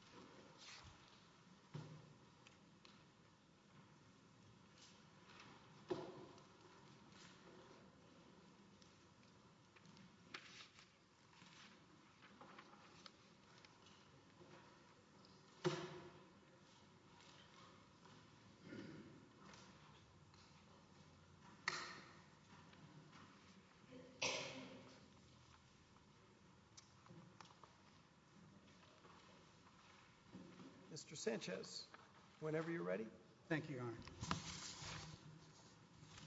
Cascabel Cattle Company, L.L.C v. USA Cascabel Cattle Company, L.L.C v. USA Mr. Sanchez, whenever you're ready. Thank you, Your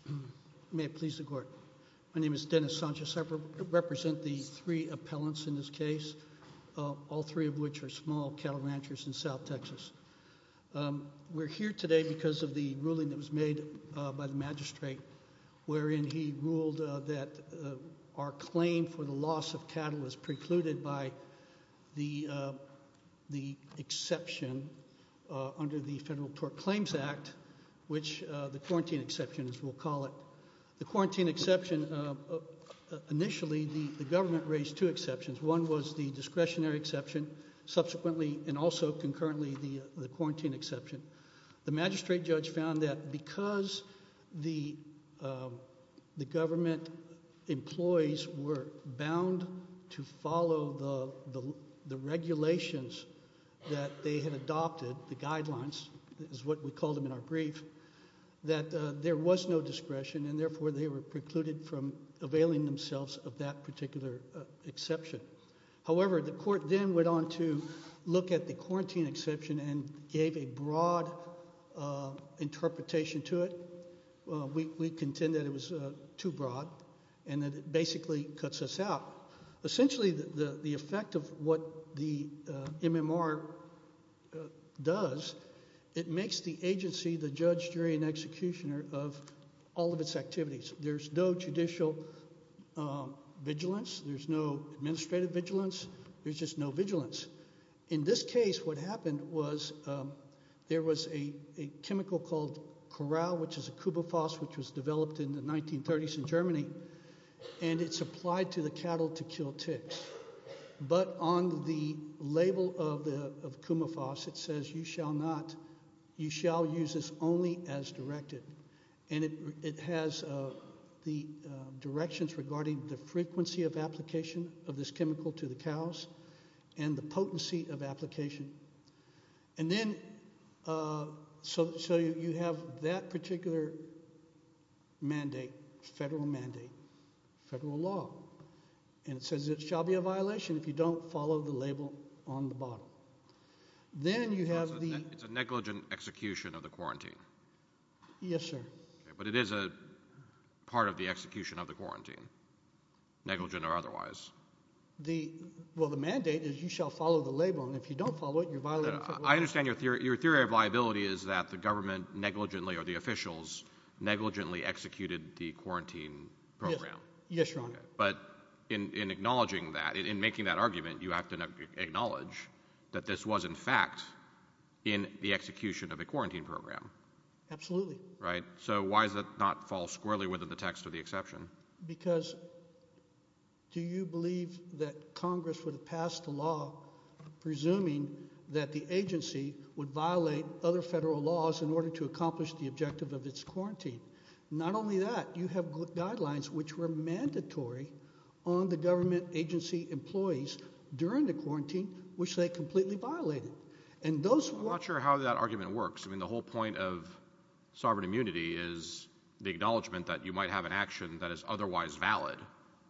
Honor. May it please the Court. My name is Dennis Sanchez. I represent the three appellants in this case, all three of which are small cattle ranchers in South Texas. We're here today because of the ruling that was made by the magistrate, wherein he ruled that our claim for the loss of cattle was precluded by the exception under the Federal Tort Claims Act, which the quarantine exception, as we'll call it. The quarantine exception, initially the government raised two exceptions. One was the discretionary exception. Subsequently, and also concurrently, the quarantine exception. The magistrate judge found that because the government employees were bound to follow the regulations that they had adopted, the guidelines is what we called them in our brief, that there was no discretion and therefore they were precluded from availing themselves of that particular exception. However, the court then went on to look at the quarantine exception and gave a broad interpretation to it. We contend that it was too broad and that it basically cuts us out. Essentially, the effect of what the MMR does, it makes the agency the judge, jury, and executioner of all of its activities. There's no judicial vigilance. There's no administrative vigilance. There's just no vigilance. In this case, what happened was there was a chemical called Corral, which is a Kumafos, which was developed in the 1930s in Germany. It's applied to the cattle to kill ticks. But on the label of Kumafos, it says, you shall use this only as directed. It has the directions regarding the frequency of application of this chemical to the cows and the potency of application. And then so you have that particular mandate, federal mandate, federal law, and it says it shall be a violation if you don't follow the label on the bottle. Then you have the... It's a negligent execution of the quarantine. Yes, sir. But it is a part of the execution of the quarantine, negligent or otherwise. Well, the mandate is you shall follow the label, and if you don't follow it, you're violating... I understand your theory of liability is that the government negligently or the officials negligently executed the quarantine program. Yes, Your Honor. But in acknowledging that, in making that argument, you have to acknowledge that this was, in fact, in the execution of the quarantine program. Absolutely. So why does that not fall squarely within the text of the exception? Because do you believe that Congress would have passed a law presuming that the agency would violate other federal laws in order to accomplish the objective of its quarantine? Not only that, you have guidelines which were mandatory on the government agency employees during the quarantine, which they completely violated. I'm not sure how that argument works. I mean, the whole point of sovereign immunity is the acknowledgement that you might have an action that is otherwise valid,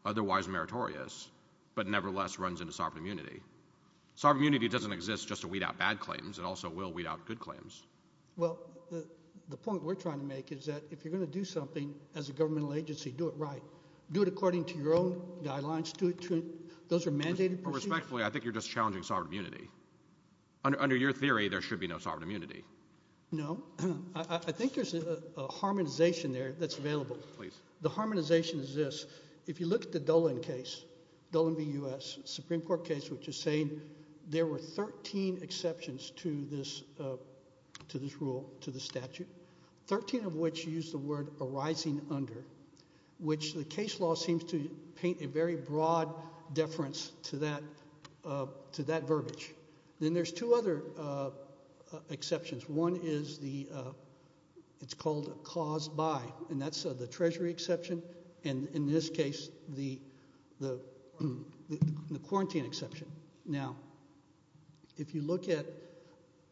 otherwise meritorious, but nevertheless runs into sovereign immunity. Sovereign immunity doesn't exist just to weed out bad claims. It also will weed out good claims. Well, the point we're trying to make is that if you're going to do something as a governmental agency, do it right. Do it according to your own guidelines. Those are mandated procedures. Respectfully, I think you're just challenging sovereign immunity. Under your theory, there should be no sovereign immunity. No. I think there's a harmonization there that's available. Please. The harmonization is this. If you look at the Dolan case, Dolan v. U.S., Supreme Court case, which is saying there were 13 exceptions to this rule, to the statute, 13 of which use the word arising under, which the case law seems to paint a very broad deference to that verbiage. Then there's two other exceptions. One is called caused by, and that's the Treasury exception. In this case, the quarantine exception. Now, if you look at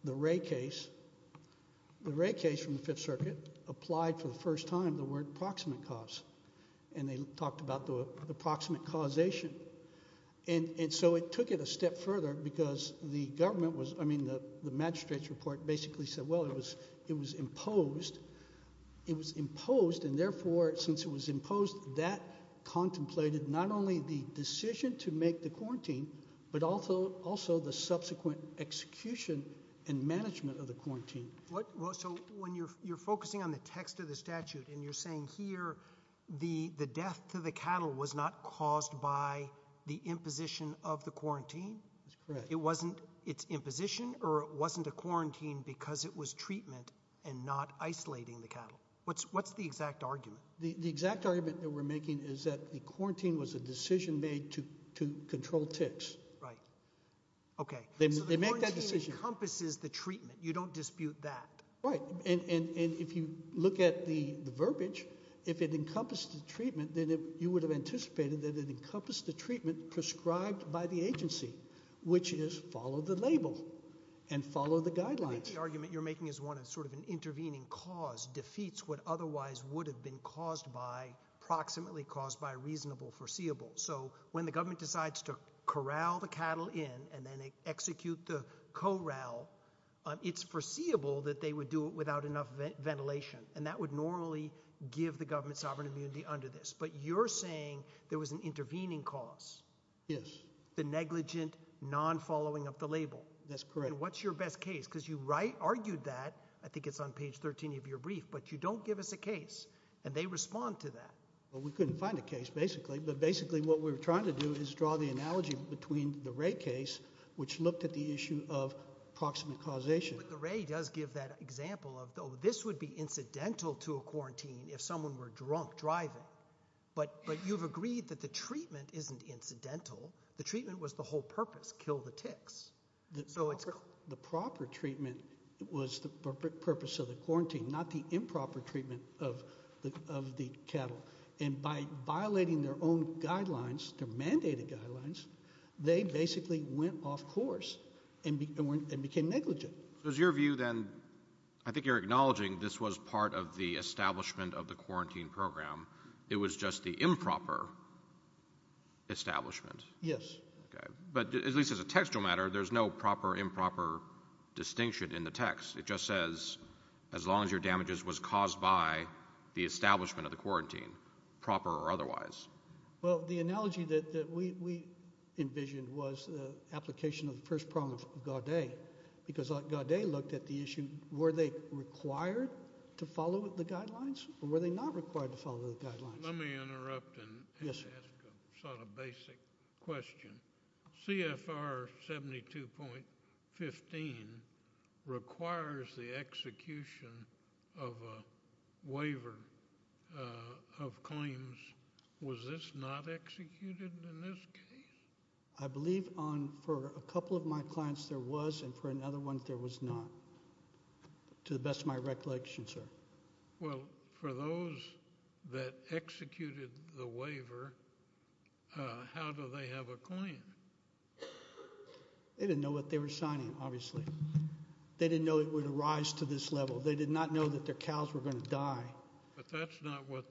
the Ray case, the Ray case from the Fifth Circuit applied for the first time the word proximate cause. They talked about the proximate causation. It took it a step further because the government was, I mean the magistrate's report basically said, well, it was imposed. It was imposed, and therefore, since it was imposed, that contemplated not only the decision to make the quarantine, but also the subsequent execution and management of the quarantine. So when you're focusing on the text of the statute and you're saying here the death to the cattle was not caused by the imposition of the quarantine. It wasn't its imposition or it wasn't a quarantine because it was treatment and not isolating the cattle. What's the exact argument? The exact argument that we're making is that the quarantine was a decision made to control ticks. Right. Okay. They make that decision. So the quarantine encompasses the treatment. You don't dispute that. Right, and if you look at the verbiage, if it encompassed the treatment, then you would have anticipated that it encompassed the treatment prescribed by the agency, which is follow the label and follow the guidelines. The argument you're making is one of sort of an intervening cause, defeats what otherwise would have been caused by, approximately caused by, reasonable foreseeable. So when the government decides to corral the cattle in and then execute the corral, it's foreseeable that they would do it without enough ventilation, and that would normally give the government sovereign immunity under this. But you're saying there was an intervening cause. Yes. The negligent, non-following up the label. That's correct. And what's your best case? Because you argued that, I think it's on page 13 of your brief, but you don't give us a case, and they respond to that. Well, we couldn't find a case, basically, but basically what we were trying to do is draw the analogy between the Ray case, which looked at the issue of proximate causation. But the Ray does give that example of, oh, this would be incidental to a quarantine if someone were drunk driving. But you've agreed that the treatment isn't incidental. The treatment was the whole purpose, kill the ticks. So the proper treatment was the purpose of the quarantine, not the improper treatment of the cattle. And by violating their own guidelines, their mandated guidelines, they basically went off course and became negligent. So is your view then, I think you're acknowledging this was part of the establishment of the quarantine program, it was just the improper establishment? Yes. But at least as a textual matter, there's no proper improper distinction in the text. It just says as long as your damages was caused by the establishment of the quarantine, proper or otherwise. Well, the analogy that we envisioned was the application of the first problem of Gaudet because Gaudet looked at the issue, and were they required to follow the guidelines or were they not required to follow the guidelines? Let me interrupt and ask a sort of basic question. CFR 72.15 requires the execution of a waiver of claims. Was this not executed in this case? I believe for a couple of my clients there was, and for another one there was not, to the best of my recollection, sir. Well, for those that executed the waiver, how do they have a claim? They didn't know what they were signing, obviously. They didn't know it would arise to this level. They did not know that their cows were going to die. But that's not what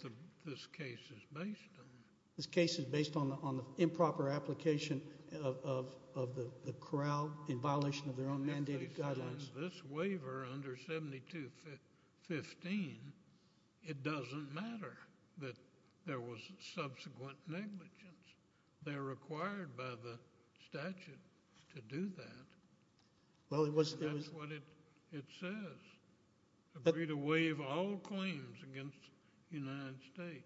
this case is based on. This case is based on the improper application of the corral in violation of their own mandated guidelines. If they signed this waiver under 72.15, it doesn't matter that there was subsequent negligence. They're required by the statute to do that. That's what it says. Agree to waive all claims against the United States.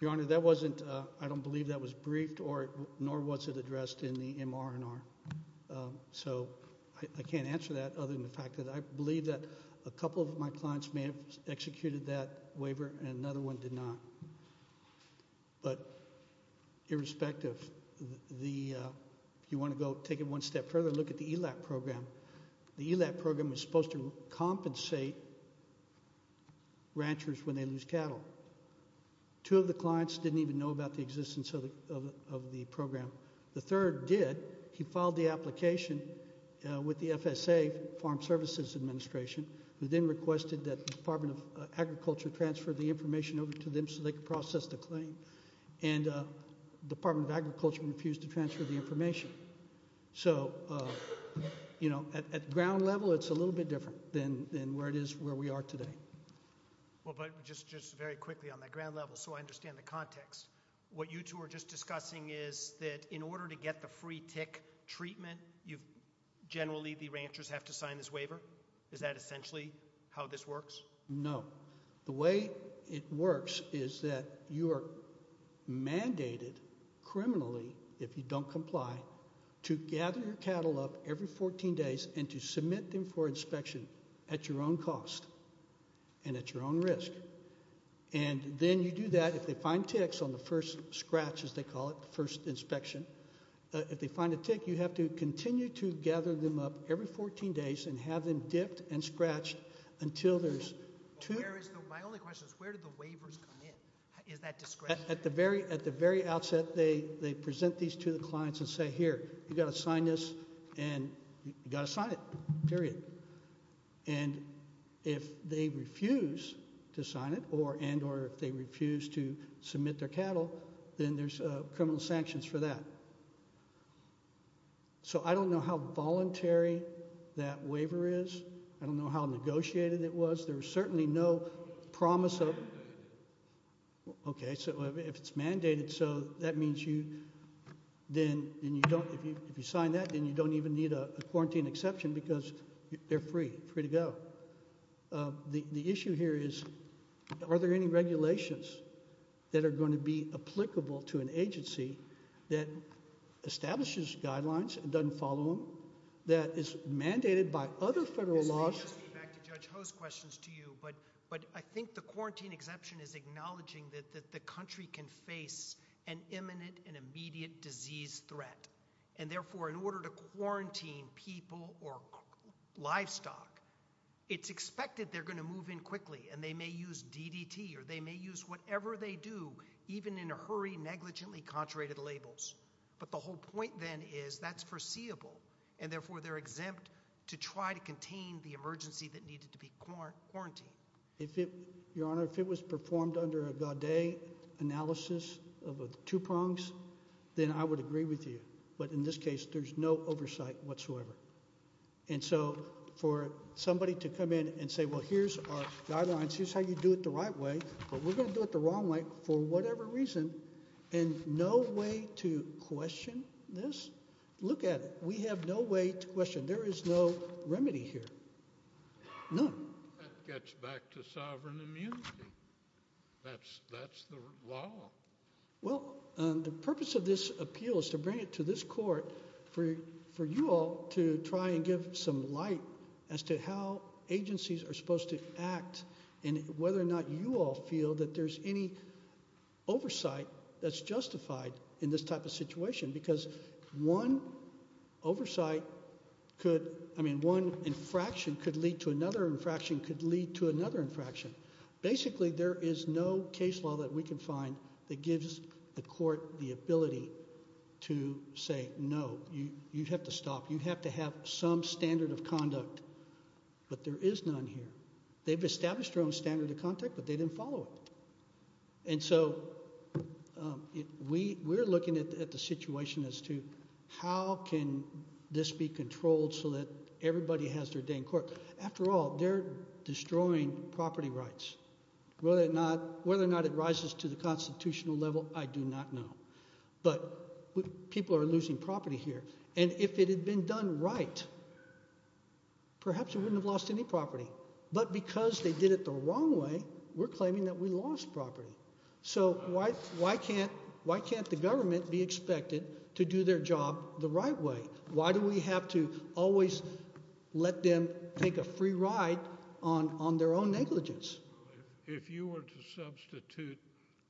Your Honor, that wasn't, I don't believe that was briefed nor was it addressed in the MR&R. So I can't answer that other than the fact that I believe that a couple of my clients may have executed that waiver and another one did not. But irrespective, if you want to go take it one step further, look at the ELAP program. The ELAP program is supposed to compensate ranchers when they lose cattle. Two of the clients didn't even know about the existence of the program. The third did. He filed the application with the FSA, Farm Services Administration, who then requested that the Department of Agriculture transfer the information over to them so they could process the claim. And the Department of Agriculture refused to transfer the information. So, you know, at ground level, it's a little bit different than where it is where we are today. Well, but just very quickly on that ground level so I understand the context, what you two are just discussing is that in order to get the free tick treatment, generally the ranchers have to sign this waiver? Is that essentially how this works? No. The way it works is that you are mandated criminally, if you don't comply, to gather your cattle up every 14 days and to submit them for inspection at your own cost and at your own risk. And then you do that. If they find ticks on the first scratch, as they call it, the first inspection, if they find a tick, you have to continue to gather them up every 14 days and have them dipped and scratched until there's two. My only question is where do the waivers come in? Is that discretionary? Well, at the very outset, they present these to the clients and say, here, you've got to sign this and you've got to sign it, period. And if they refuse to sign it and or if they refuse to submit their cattle, then there's criminal sanctions for that. So I don't know how voluntary that waiver is. I don't know how negotiated it was. There was certainly no promise of it. Okay. So if it's mandated, so that means you then you don't, if you sign that, then you don't even need a quarantine exception because they're free, free to go. The issue here is are there any regulations that are going to be applicable to an agency that establishes guidelines and doesn't follow them, that is mandated by other federal laws? Back to Judge Ho's questions to you, but I think the quarantine exception is acknowledging that the country can face an imminent and immediate disease threat. And therefore, in order to quarantine people or livestock, it's expected they're going to move in quickly and they may use DDT or they may use whatever they do, even in a hurry negligently contrary to the labels. But the whole point then is that's foreseeable, and therefore they're exempt to try to contain the emergency that needed to be quarantined. Your Honor, if it was performed under a Gaudet analysis of two prongs, then I would agree with you. But in this case, there's no oversight whatsoever. And so for somebody to come in and say, well, here's our guidelines. Here's how you do it the right way, but we're going to do it the wrong way for whatever reason, and no way to question this, look at it. We have no way to question. There is no remedy here. None. That gets back to sovereign immunity. That's the law. Well, the purpose of this appeal is to bring it to this court for you all to try and give some light as to how agencies are supposed to act and whether or not you all feel that there's any oversight that's justified in this type of situation, because one oversight could, I mean, one infraction could lead to another infraction could lead to another infraction. Basically, there is no case law that we can find that gives the court the ability to say, no, you have to stop. You have to have some standard of conduct. But there is none here. They've established their own standard of conduct, but they didn't follow it. And so we're looking at the situation as to how can this be controlled so that everybody has their day in court. After all, they're destroying property rights. Whether or not it rises to the constitutional level, I do not know. But people are losing property here. And if it had been done right, perhaps we wouldn't have lost any property. But because they did it the wrong way, we're claiming that we lost property. So why can't the government be expected to do their job the right way? Why do we have to always let them take a free ride on their own negligence? If you were to substitute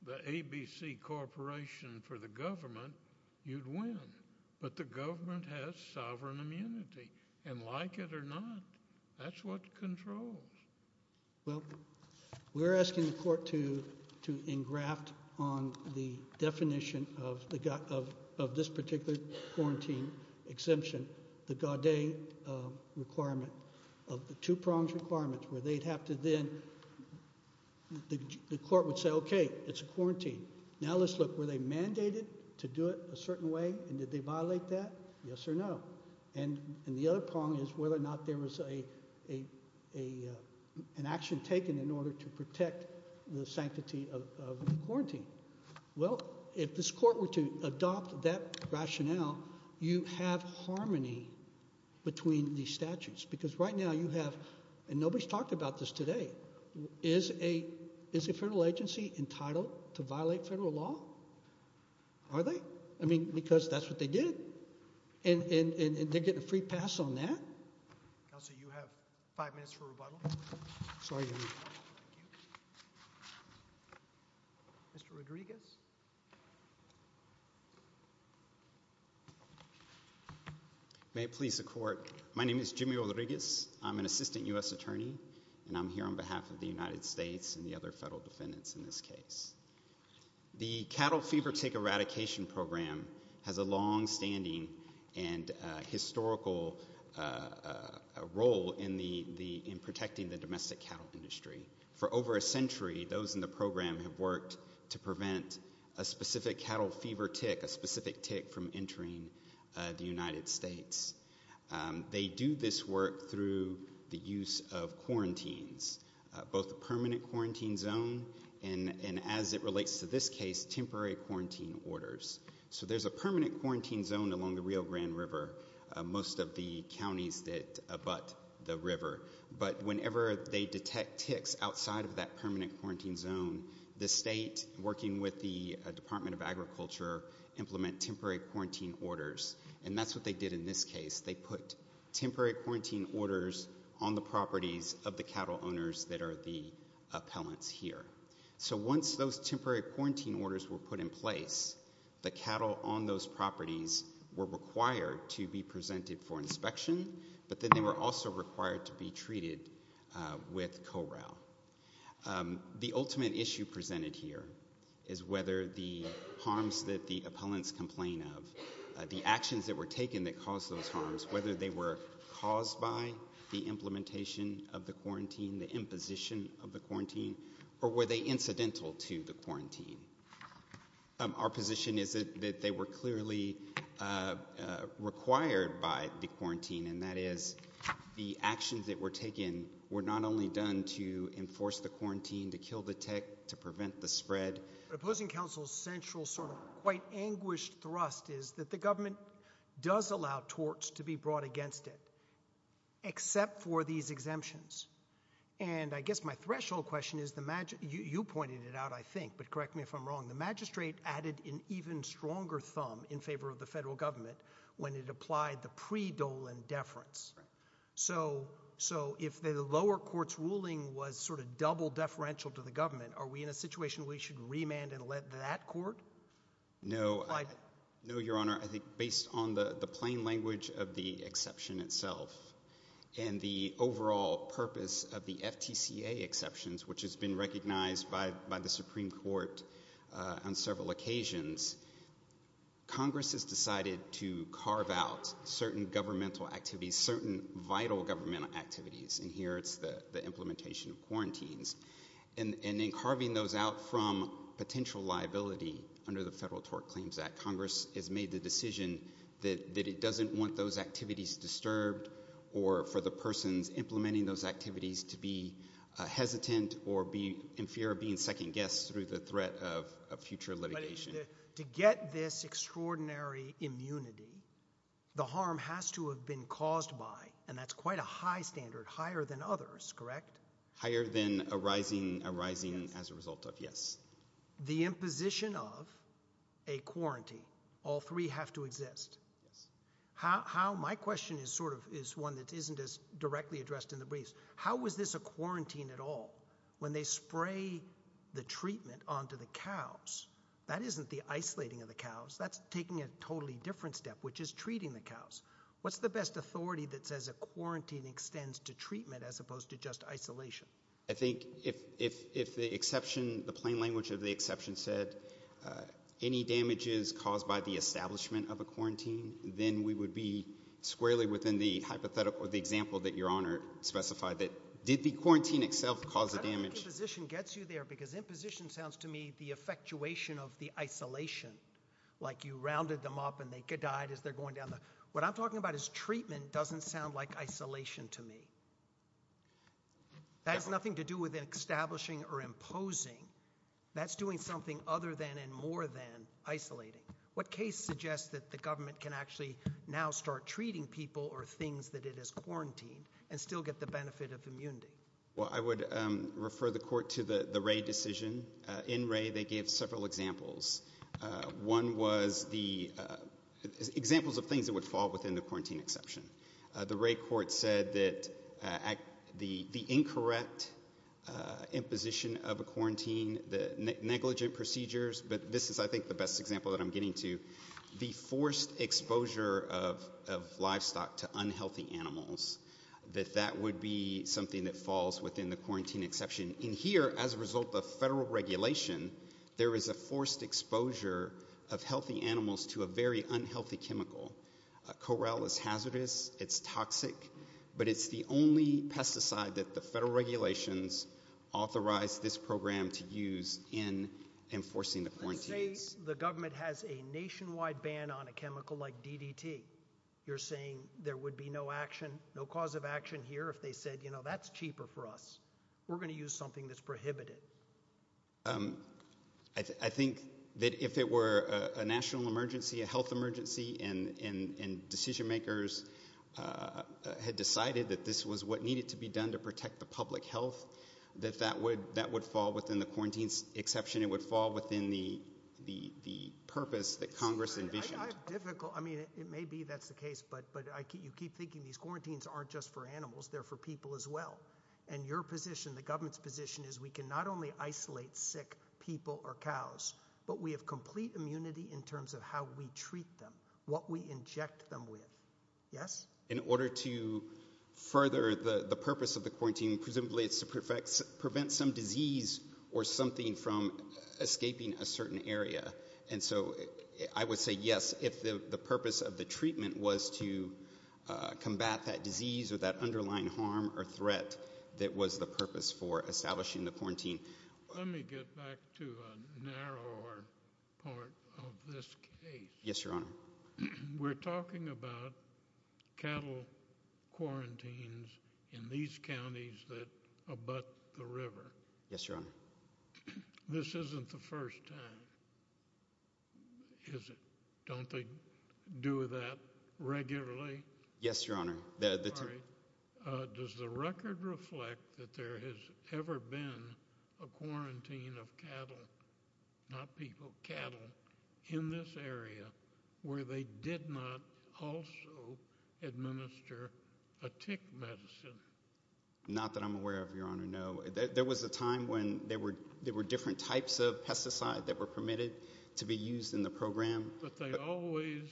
the ABC Corporation for the government, you'd win. But the government has sovereign immunity. And like it or not, that's what controls. Well, we're asking the court to engraft on the definition of this particular quarantine exemption the Gaudet requirement of the two-pronged requirement where they'd have to then the court would say, okay, it's a quarantine. Now let's look. Were they mandated to do it a certain way? And did they violate that? Yes or no? And the other prong is whether or not there was an action taken in order to protect the sanctity of the quarantine. Well, if this court were to adopt that rationale, you have harmony between these statutes because right now you have, and nobody's talked about this today, is a federal agency entitled to violate federal law? Are they? I mean, because that's what they did. And they're getting a free pass on that? Counsel, you have five minutes for rebuttal. Sorry. Mr. Rodriguez. May it please the court. My name is Jimmy Rodriguez. I'm an assistant U.S. attorney, and I'm here on behalf of the United States and the other federal defendants in this case. The Cattle Fever Tick Eradication Program has a longstanding and historical role in protecting the domestic cattle industry. For over a century, those in the program have worked to prevent a specific cattle fever tick, a specific tick, from entering the United States. They do this work through the use of quarantines, both a permanent quarantine zone and, as it relates to this case, temporary quarantine orders. So there's a permanent quarantine zone along the Rio Grande River, most of the counties that abut the river. But whenever they detect ticks outside of that permanent quarantine zone, the state, working with the Department of Agriculture, implement temporary quarantine orders. And that's what they did in this case. They put temporary quarantine orders on the properties of the cattle owners that are the appellants here. So once those temporary quarantine orders were put in place, the cattle on those properties were required to be presented for inspection, but then they were also required to be treated with corral. The ultimate issue presented here is whether the harms that the appellants complain of, the actions that were taken that caused those harms, whether they were caused by the implementation of the quarantine, the imposition of the quarantine, or were they incidental to the quarantine. Our position is that they were clearly required by the quarantine, and that is the actions that were taken were not only done to enforce the quarantine, to kill the tick, to prevent the spread. But opposing counsel's central sort of quite anguished thrust is that the government does allow torts to be brought against it, except for these exemptions. And I guess my threshold question is, you pointed it out, I think, but correct me if I'm wrong, the magistrate added an even stronger thumb in favor of the federal government when it applied the pre-Dolan deference. So if the lower court's ruling was sort of double deferential to the demand and led that court? No, Your Honor, I think based on the plain language of the exception itself and the overall purpose of the FTCA exceptions, which has been recognized by the Supreme Court on several occasions, Congress has decided to carve out certain governmental activities, certain vital government activities, and here it's the implementation of quarantines. And in carving those out from potential liability under the Federal Tort Claims Act, Congress has made the decision that it doesn't want those activities disturbed or for the persons implementing those activities to be hesitant or be in fear of being second guessed through the threat of a future litigation. To get this extraordinary immunity, the harm has to have been caused by, and that's quite a high standard, higher than others, correct? Higher than arising as a result of, yes. The imposition of a quarantine. All three have to exist. How, my question is sort of, is one that isn't as directly addressed in the briefs. How was this a quarantine at all? When they spray the treatment onto the cows, that isn't the isolating of the cows. That's taking a totally different step, which is treating the cows. What's the best authority that says a quarantine extends to treatment as opposed to just isolation? I think if, if, if the exception, the plain language of the exception said any damages caused by the establishment of a quarantine, then we would be squarely within the hypothetical, the example that your honor specified that did the quarantine itself cause a damage. Position gets you there because imposition sounds to me, the effectuation of the isolation, like you rounded them up and they died as they're going down. What I'm talking about is treatment doesn't sound like isolation to me. That has nothing to do with establishing or imposing that's doing something other than, and more than isolating. What case suggests that the government can actually now start treating people or things that it has quarantined and still get the benefit of immunity? Well, I would refer the court to the, the Ray decision in Ray. They gave several examples. One was the examples of things that would fall within the quarantine exception. The Ray court said that at the, the incorrect imposition of a quarantine, the negligent procedures, but this is I think the best example that I'm getting to the forced exposure of, of livestock to unhealthy animals, that that would be something that falls within the quarantine exception in here. As a result of federal regulation, there is a forced exposure of healthy animals to a very unhealthy chemical. A corral is hazardous. It's toxic, but it's the only pesticide that the federal regulations authorized this program to use in enforcing the quarantine. The government has a nationwide ban on a chemical like DDT. You're saying there would be no action, no cause of action here. If they said, you know, that's cheaper for us, we're going to use something that's prohibited. I think that if it were a national emergency, a health emergency and, and, and decision makers had decided that this was what needed to be done to protect the public health, that that would, that would fall within the quarantine exception. It would fall within the, the, the purpose that Congress envisioned. I mean, it may be, that's the case, but, but I keep, you keep thinking these quarantines aren't just for animals. They're for people as well. And your position, the government's position is we can not only isolate sick people or cows, but we have complete immunity in terms of how we treat them, what we inject them with. Yes. In order to further the purpose of the quarantine, presumably it's to prevent some disease or something from escaping a certain area. And so I would say, yes, if the purpose of the treatment was to combat that disease or that underlying harm or threat, that was the purpose for establishing the quarantine. Let me get back to a narrower part of this case. Yes, Your Honor. We're talking about cattle quarantines in these counties that abut the river. Yes, Your Honor. This isn't the first time. Is it? Don't they do that regularly? Yes, Your Honor. Does the record reflect that there has ever been a quarantine of cattle, not people, cattle in this area where they did not also administer a tick medicine? Not that I'm aware of, Your Honor. No. There was a time when there were, there were different types of pesticide that were permitted to be used in the program. But they always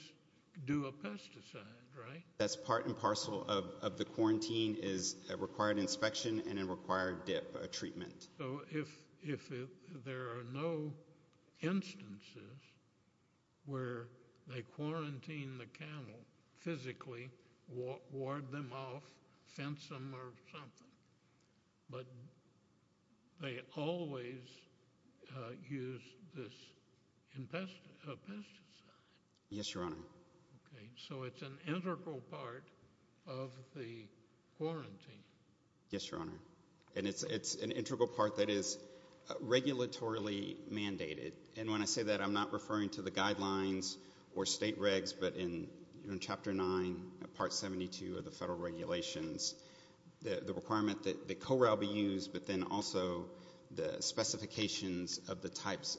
do a pesticide, right? That's part and parcel of the quarantine is a required inspection and a required dip treatment. So if there are no instances where they quarantine the cattle physically, ward them off, fence them or something, but they always use this pesticide. Yes, Your Honor. Okay. So it's an integral part of the quarantine. Yes, Your Honor. And it's an integral part that is regulatorily mandated. And when I say that, I'm not referring to the guidelines or state regs, but in chapter nine, part 72 of the federal regulations, the requirement that the corral be used, but then also the specifications of the types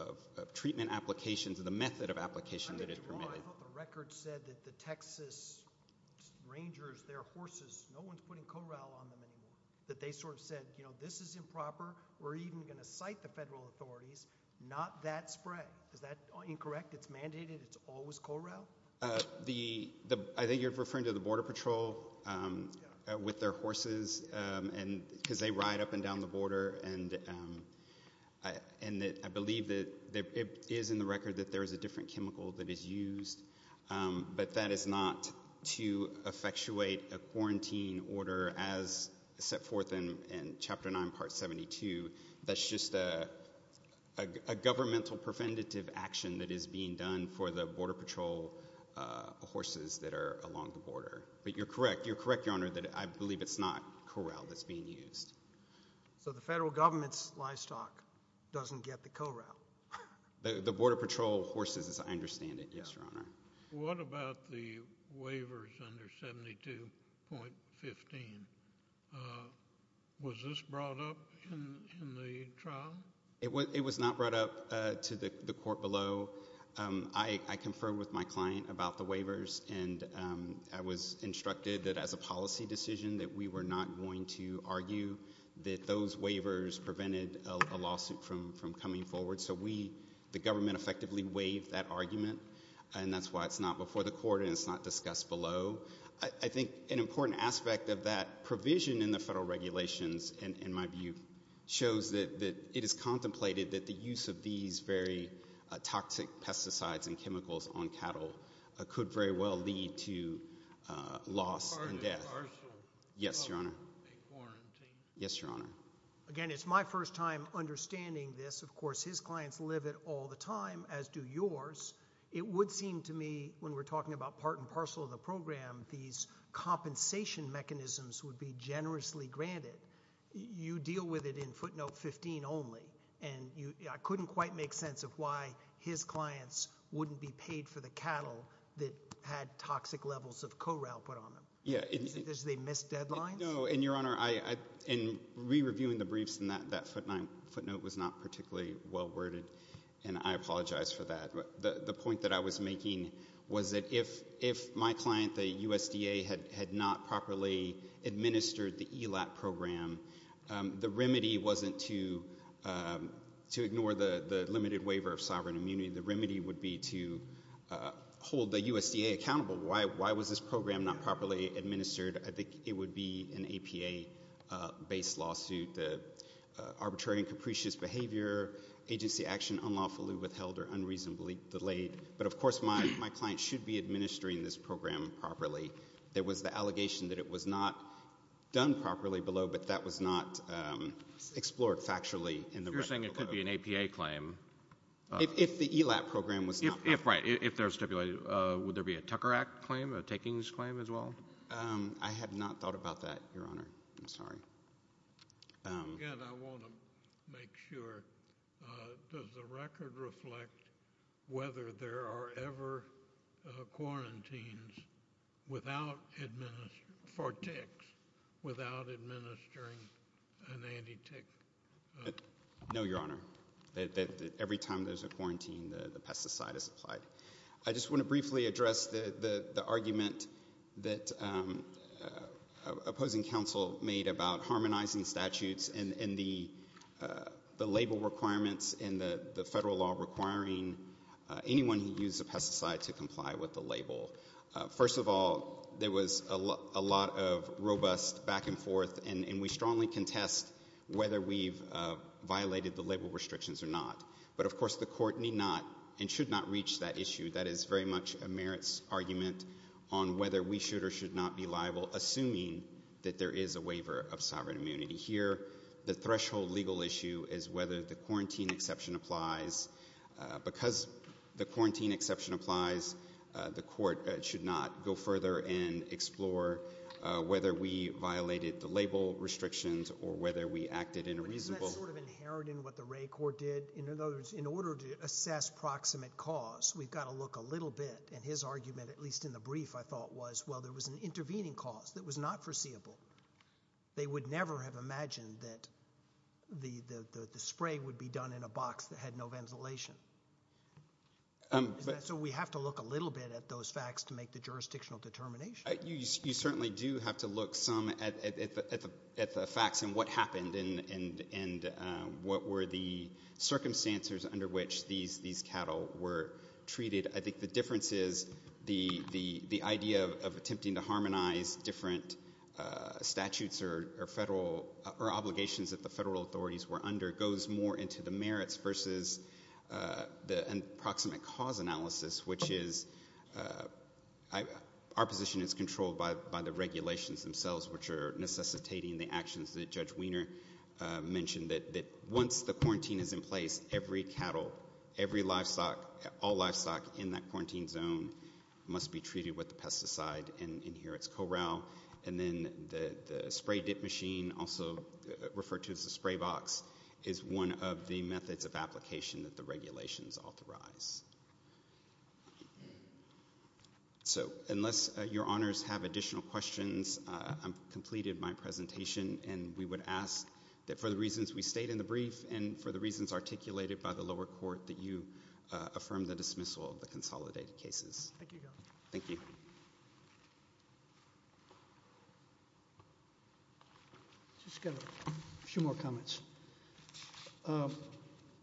of treatment applications and the method of application that is permitted. The record said that the Texas rangers, their horses, no one's putting corral on them anymore. That they sort of said, you know, this is improper. We're even going to cite the federal authorities, not that spread. Is that incorrect? It's mandated. It's always corral. The, the, I think you're referring to the border patrol with their horses. And cause they ride up and down the border. And, um, I, and I believe that there is in the record that there is a different chemical that is used. Um, but that is not to effectuate a quarantine order as set forth in, in chapter nine, part 72. That's just a, a governmental preventative action that is being done for the border patrol, uh, horses that are along the border. But you're correct. You're correct. Your Honor that I believe it's not corral that's being used. So the federal government's livestock doesn't get the corral. The border patrol horses as I understand it. Yes, Your Honor. What about the waivers under 72.15? Uh, was this brought up in the trial? It was, it was not brought up, uh, to the court below. Um, I, I confer with my client about the waivers and, um, I was instructed that as a policy decision, that we were not going to argue that those waivers prevented a lawsuit from, from coming forward. So we, the government effectively waived that argument. And that's why it's not before the court and it's not discussed below. I think an important aspect of that provision in the federal regulations and in my view shows that, that it is contemplated that the use of these very toxic pesticides and chemicals on cattle could very well lead to a loss and death. Yes, Your Honor. Yes, Your Honor. Again, it's my first time understanding this. Of course his clients live at all the time as do yours. It would seem to me when we're talking about part and parcel of the program, these compensation mechanisms would be generously granted. You deal with it in footnote 15 only. And you couldn't quite make sense of why his clients wouldn't be paid for the cattle that had toxic levels of corral put on them. Yeah. Does they miss deadlines? No. And Your Honor, I, in re-reviewing the briefs and that, that footnote was not particularly well-worded and I apologize for that. The point that I was making was that if, if my client, the USDA had not properly administered the ELAP program, the remedy wasn't to, to ignore the, the limited waiver of sovereign immunity. The remedy would be to hold the USDA accountable. Why, why was this program not properly administered? I think it would be an APA based lawsuit, the arbitrary and capricious behavior agency action unlawfully withheld or unreasonably delayed. But of course my, my client should be administering this program properly. There was the allegation that it was not done properly below, but that was not explored factually. You're saying it could be an APA claim. If the ELAP program was not. If right, if they're stipulated, would there be a Tucker Act claim, a takings claim as well? I have not thought about that, Your Honor. I'm sorry. Again, I want to make sure, does the record reflect whether there are ever quarantines without administering, for ticks, without administering an anti-tick? No, Your Honor. Every time there's a quarantine, the pesticide is applied. I just want to briefly address the, the argument that opposing counsel made about harmonizing statutes and, and the, the label requirements in the federal law requiring anyone who uses a pesticide to comply with the label. First of all, there was a lot of robust back and forth, and we strongly contest whether we've violated the label restrictions or not. But of course the court need not and should not reach that issue. That is very much a merits argument on whether we should or should not be liable, assuming that there is a waiver of sovereign immunity here. The threshold legal issue is whether the quarantine exception applies because the quarantine exception applies. The court should not go further and explore whether we violated the label restrictions or whether we acted in a reasonable. Isn't that sort of inherent in what the Ray court did? In other words, in order to assess proximate cause, we've got to look a little bit and his argument, at least in the brief, I thought was, well, there was an intervening cause that was not foreseeable. They would never have imagined that the, the spray would be done in a box that had no ventilation. So we have to look a little bit at those facts to make the jurisdictional determination. You certainly do have to look some at the, at the facts and what happened and, and what were the circumstances under which these, these cattle were treated. I think the difference is the, the idea of attempting to harmonize different statutes or, or federal or obligations that the federal authorities were under goes more into the merits versus the approximate cause analysis, which is our position is controlled by, by the regulations themselves, which are necessitating the actions that judge Wiener mentioned that, that once the quarantine is in place, every cattle, every livestock, all livestock in that quarantine zone must be treated with the pesticide. And in here it's corral. And then the, of the methods of application that the regulations authorize. So unless your honors have additional questions, I'm completed my presentation. And we would ask that for the reasons we stayed in the brief and for the reasons articulated by the lower court that you affirm the dismissal of the consolidated cases. Thank you. Thank you. Just got a few more comments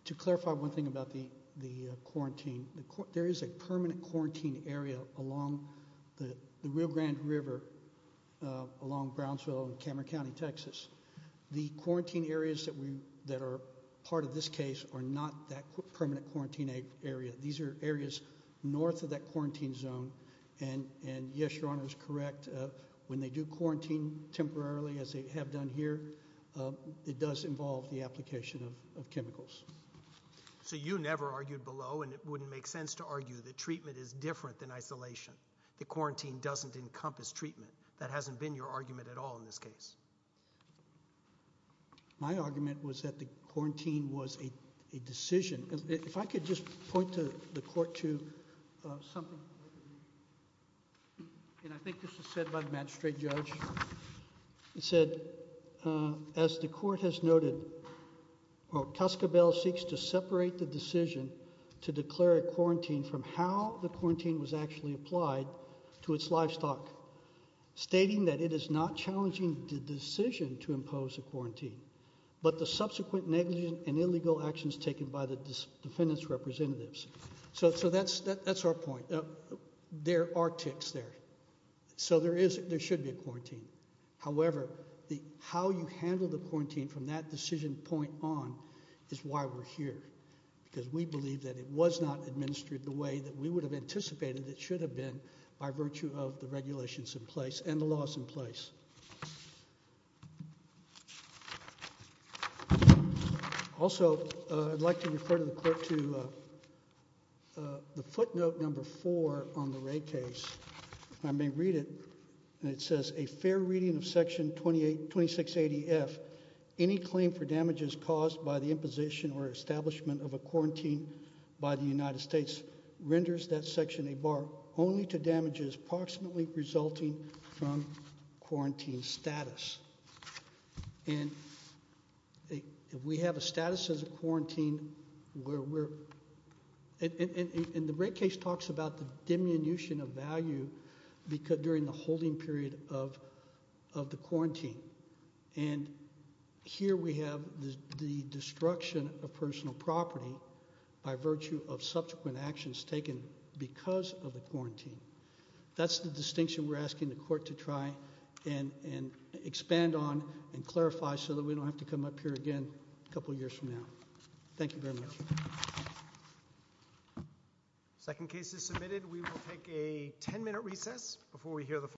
to clarify one thing about the, the quarantine. There is a permanent quarantine area along the Rio Grande river along Brownsville and Cameron County, Texas. The quarantine areas that we, that are part of this case are not that permanent quarantine area. These are areas North of that quarantine zone. And, and yes, your honor is correct. When they do quarantine temporarily, as they have done here it does involve the application of chemicals. So you never argued below and it wouldn't make sense to argue that treatment is different than isolation. The quarantine doesn't encompass treatment. That hasn't been your argument at all in this case. My argument was that the quarantine was a decision. If I could just point to the court to something, and I think this was said by the magistrate judge, it said, as the court has noted, well, Tuscarora seeks to separate the decision to declare a quarantine from how the quarantine was actually applied to its livestock stating that it is not challenging the decision to impose a quarantine, but the subsequent negligent and illegal actions taken by the defendants representatives. So, so that's, that's our point. There are ticks there. So there is, there should be a quarantine. However, the, how you handle the quarantine from that decision point on is why we're here because we believe that it was not administered the way that we would have anticipated. It should have been by virtue of the regulations in place and the laws in place. Also, I'd like to refer to the court to the footnote number four on the rate case. I may read it. And it says a fair reading of section 28, 26, 80 F, any claim for damages caused by the imposition or establishment of a quarantine by the United States renders that section, a bar only to damages approximately resulting from quarantine status. And we have a status as a quarantine where we're, and the rate case talks about the diminution of value because during the holding period of, of the quarantine. And here we have the, the destruction of personal property by virtue of subsequent actions taken because of the quarantine. That's the distinction we're asking the court to try and, and expand on and clarify so that we don't have to come up here again, a couple of years from now. Thank you very much. Second case is submitted. We will take a 10 minute recess before we hear the.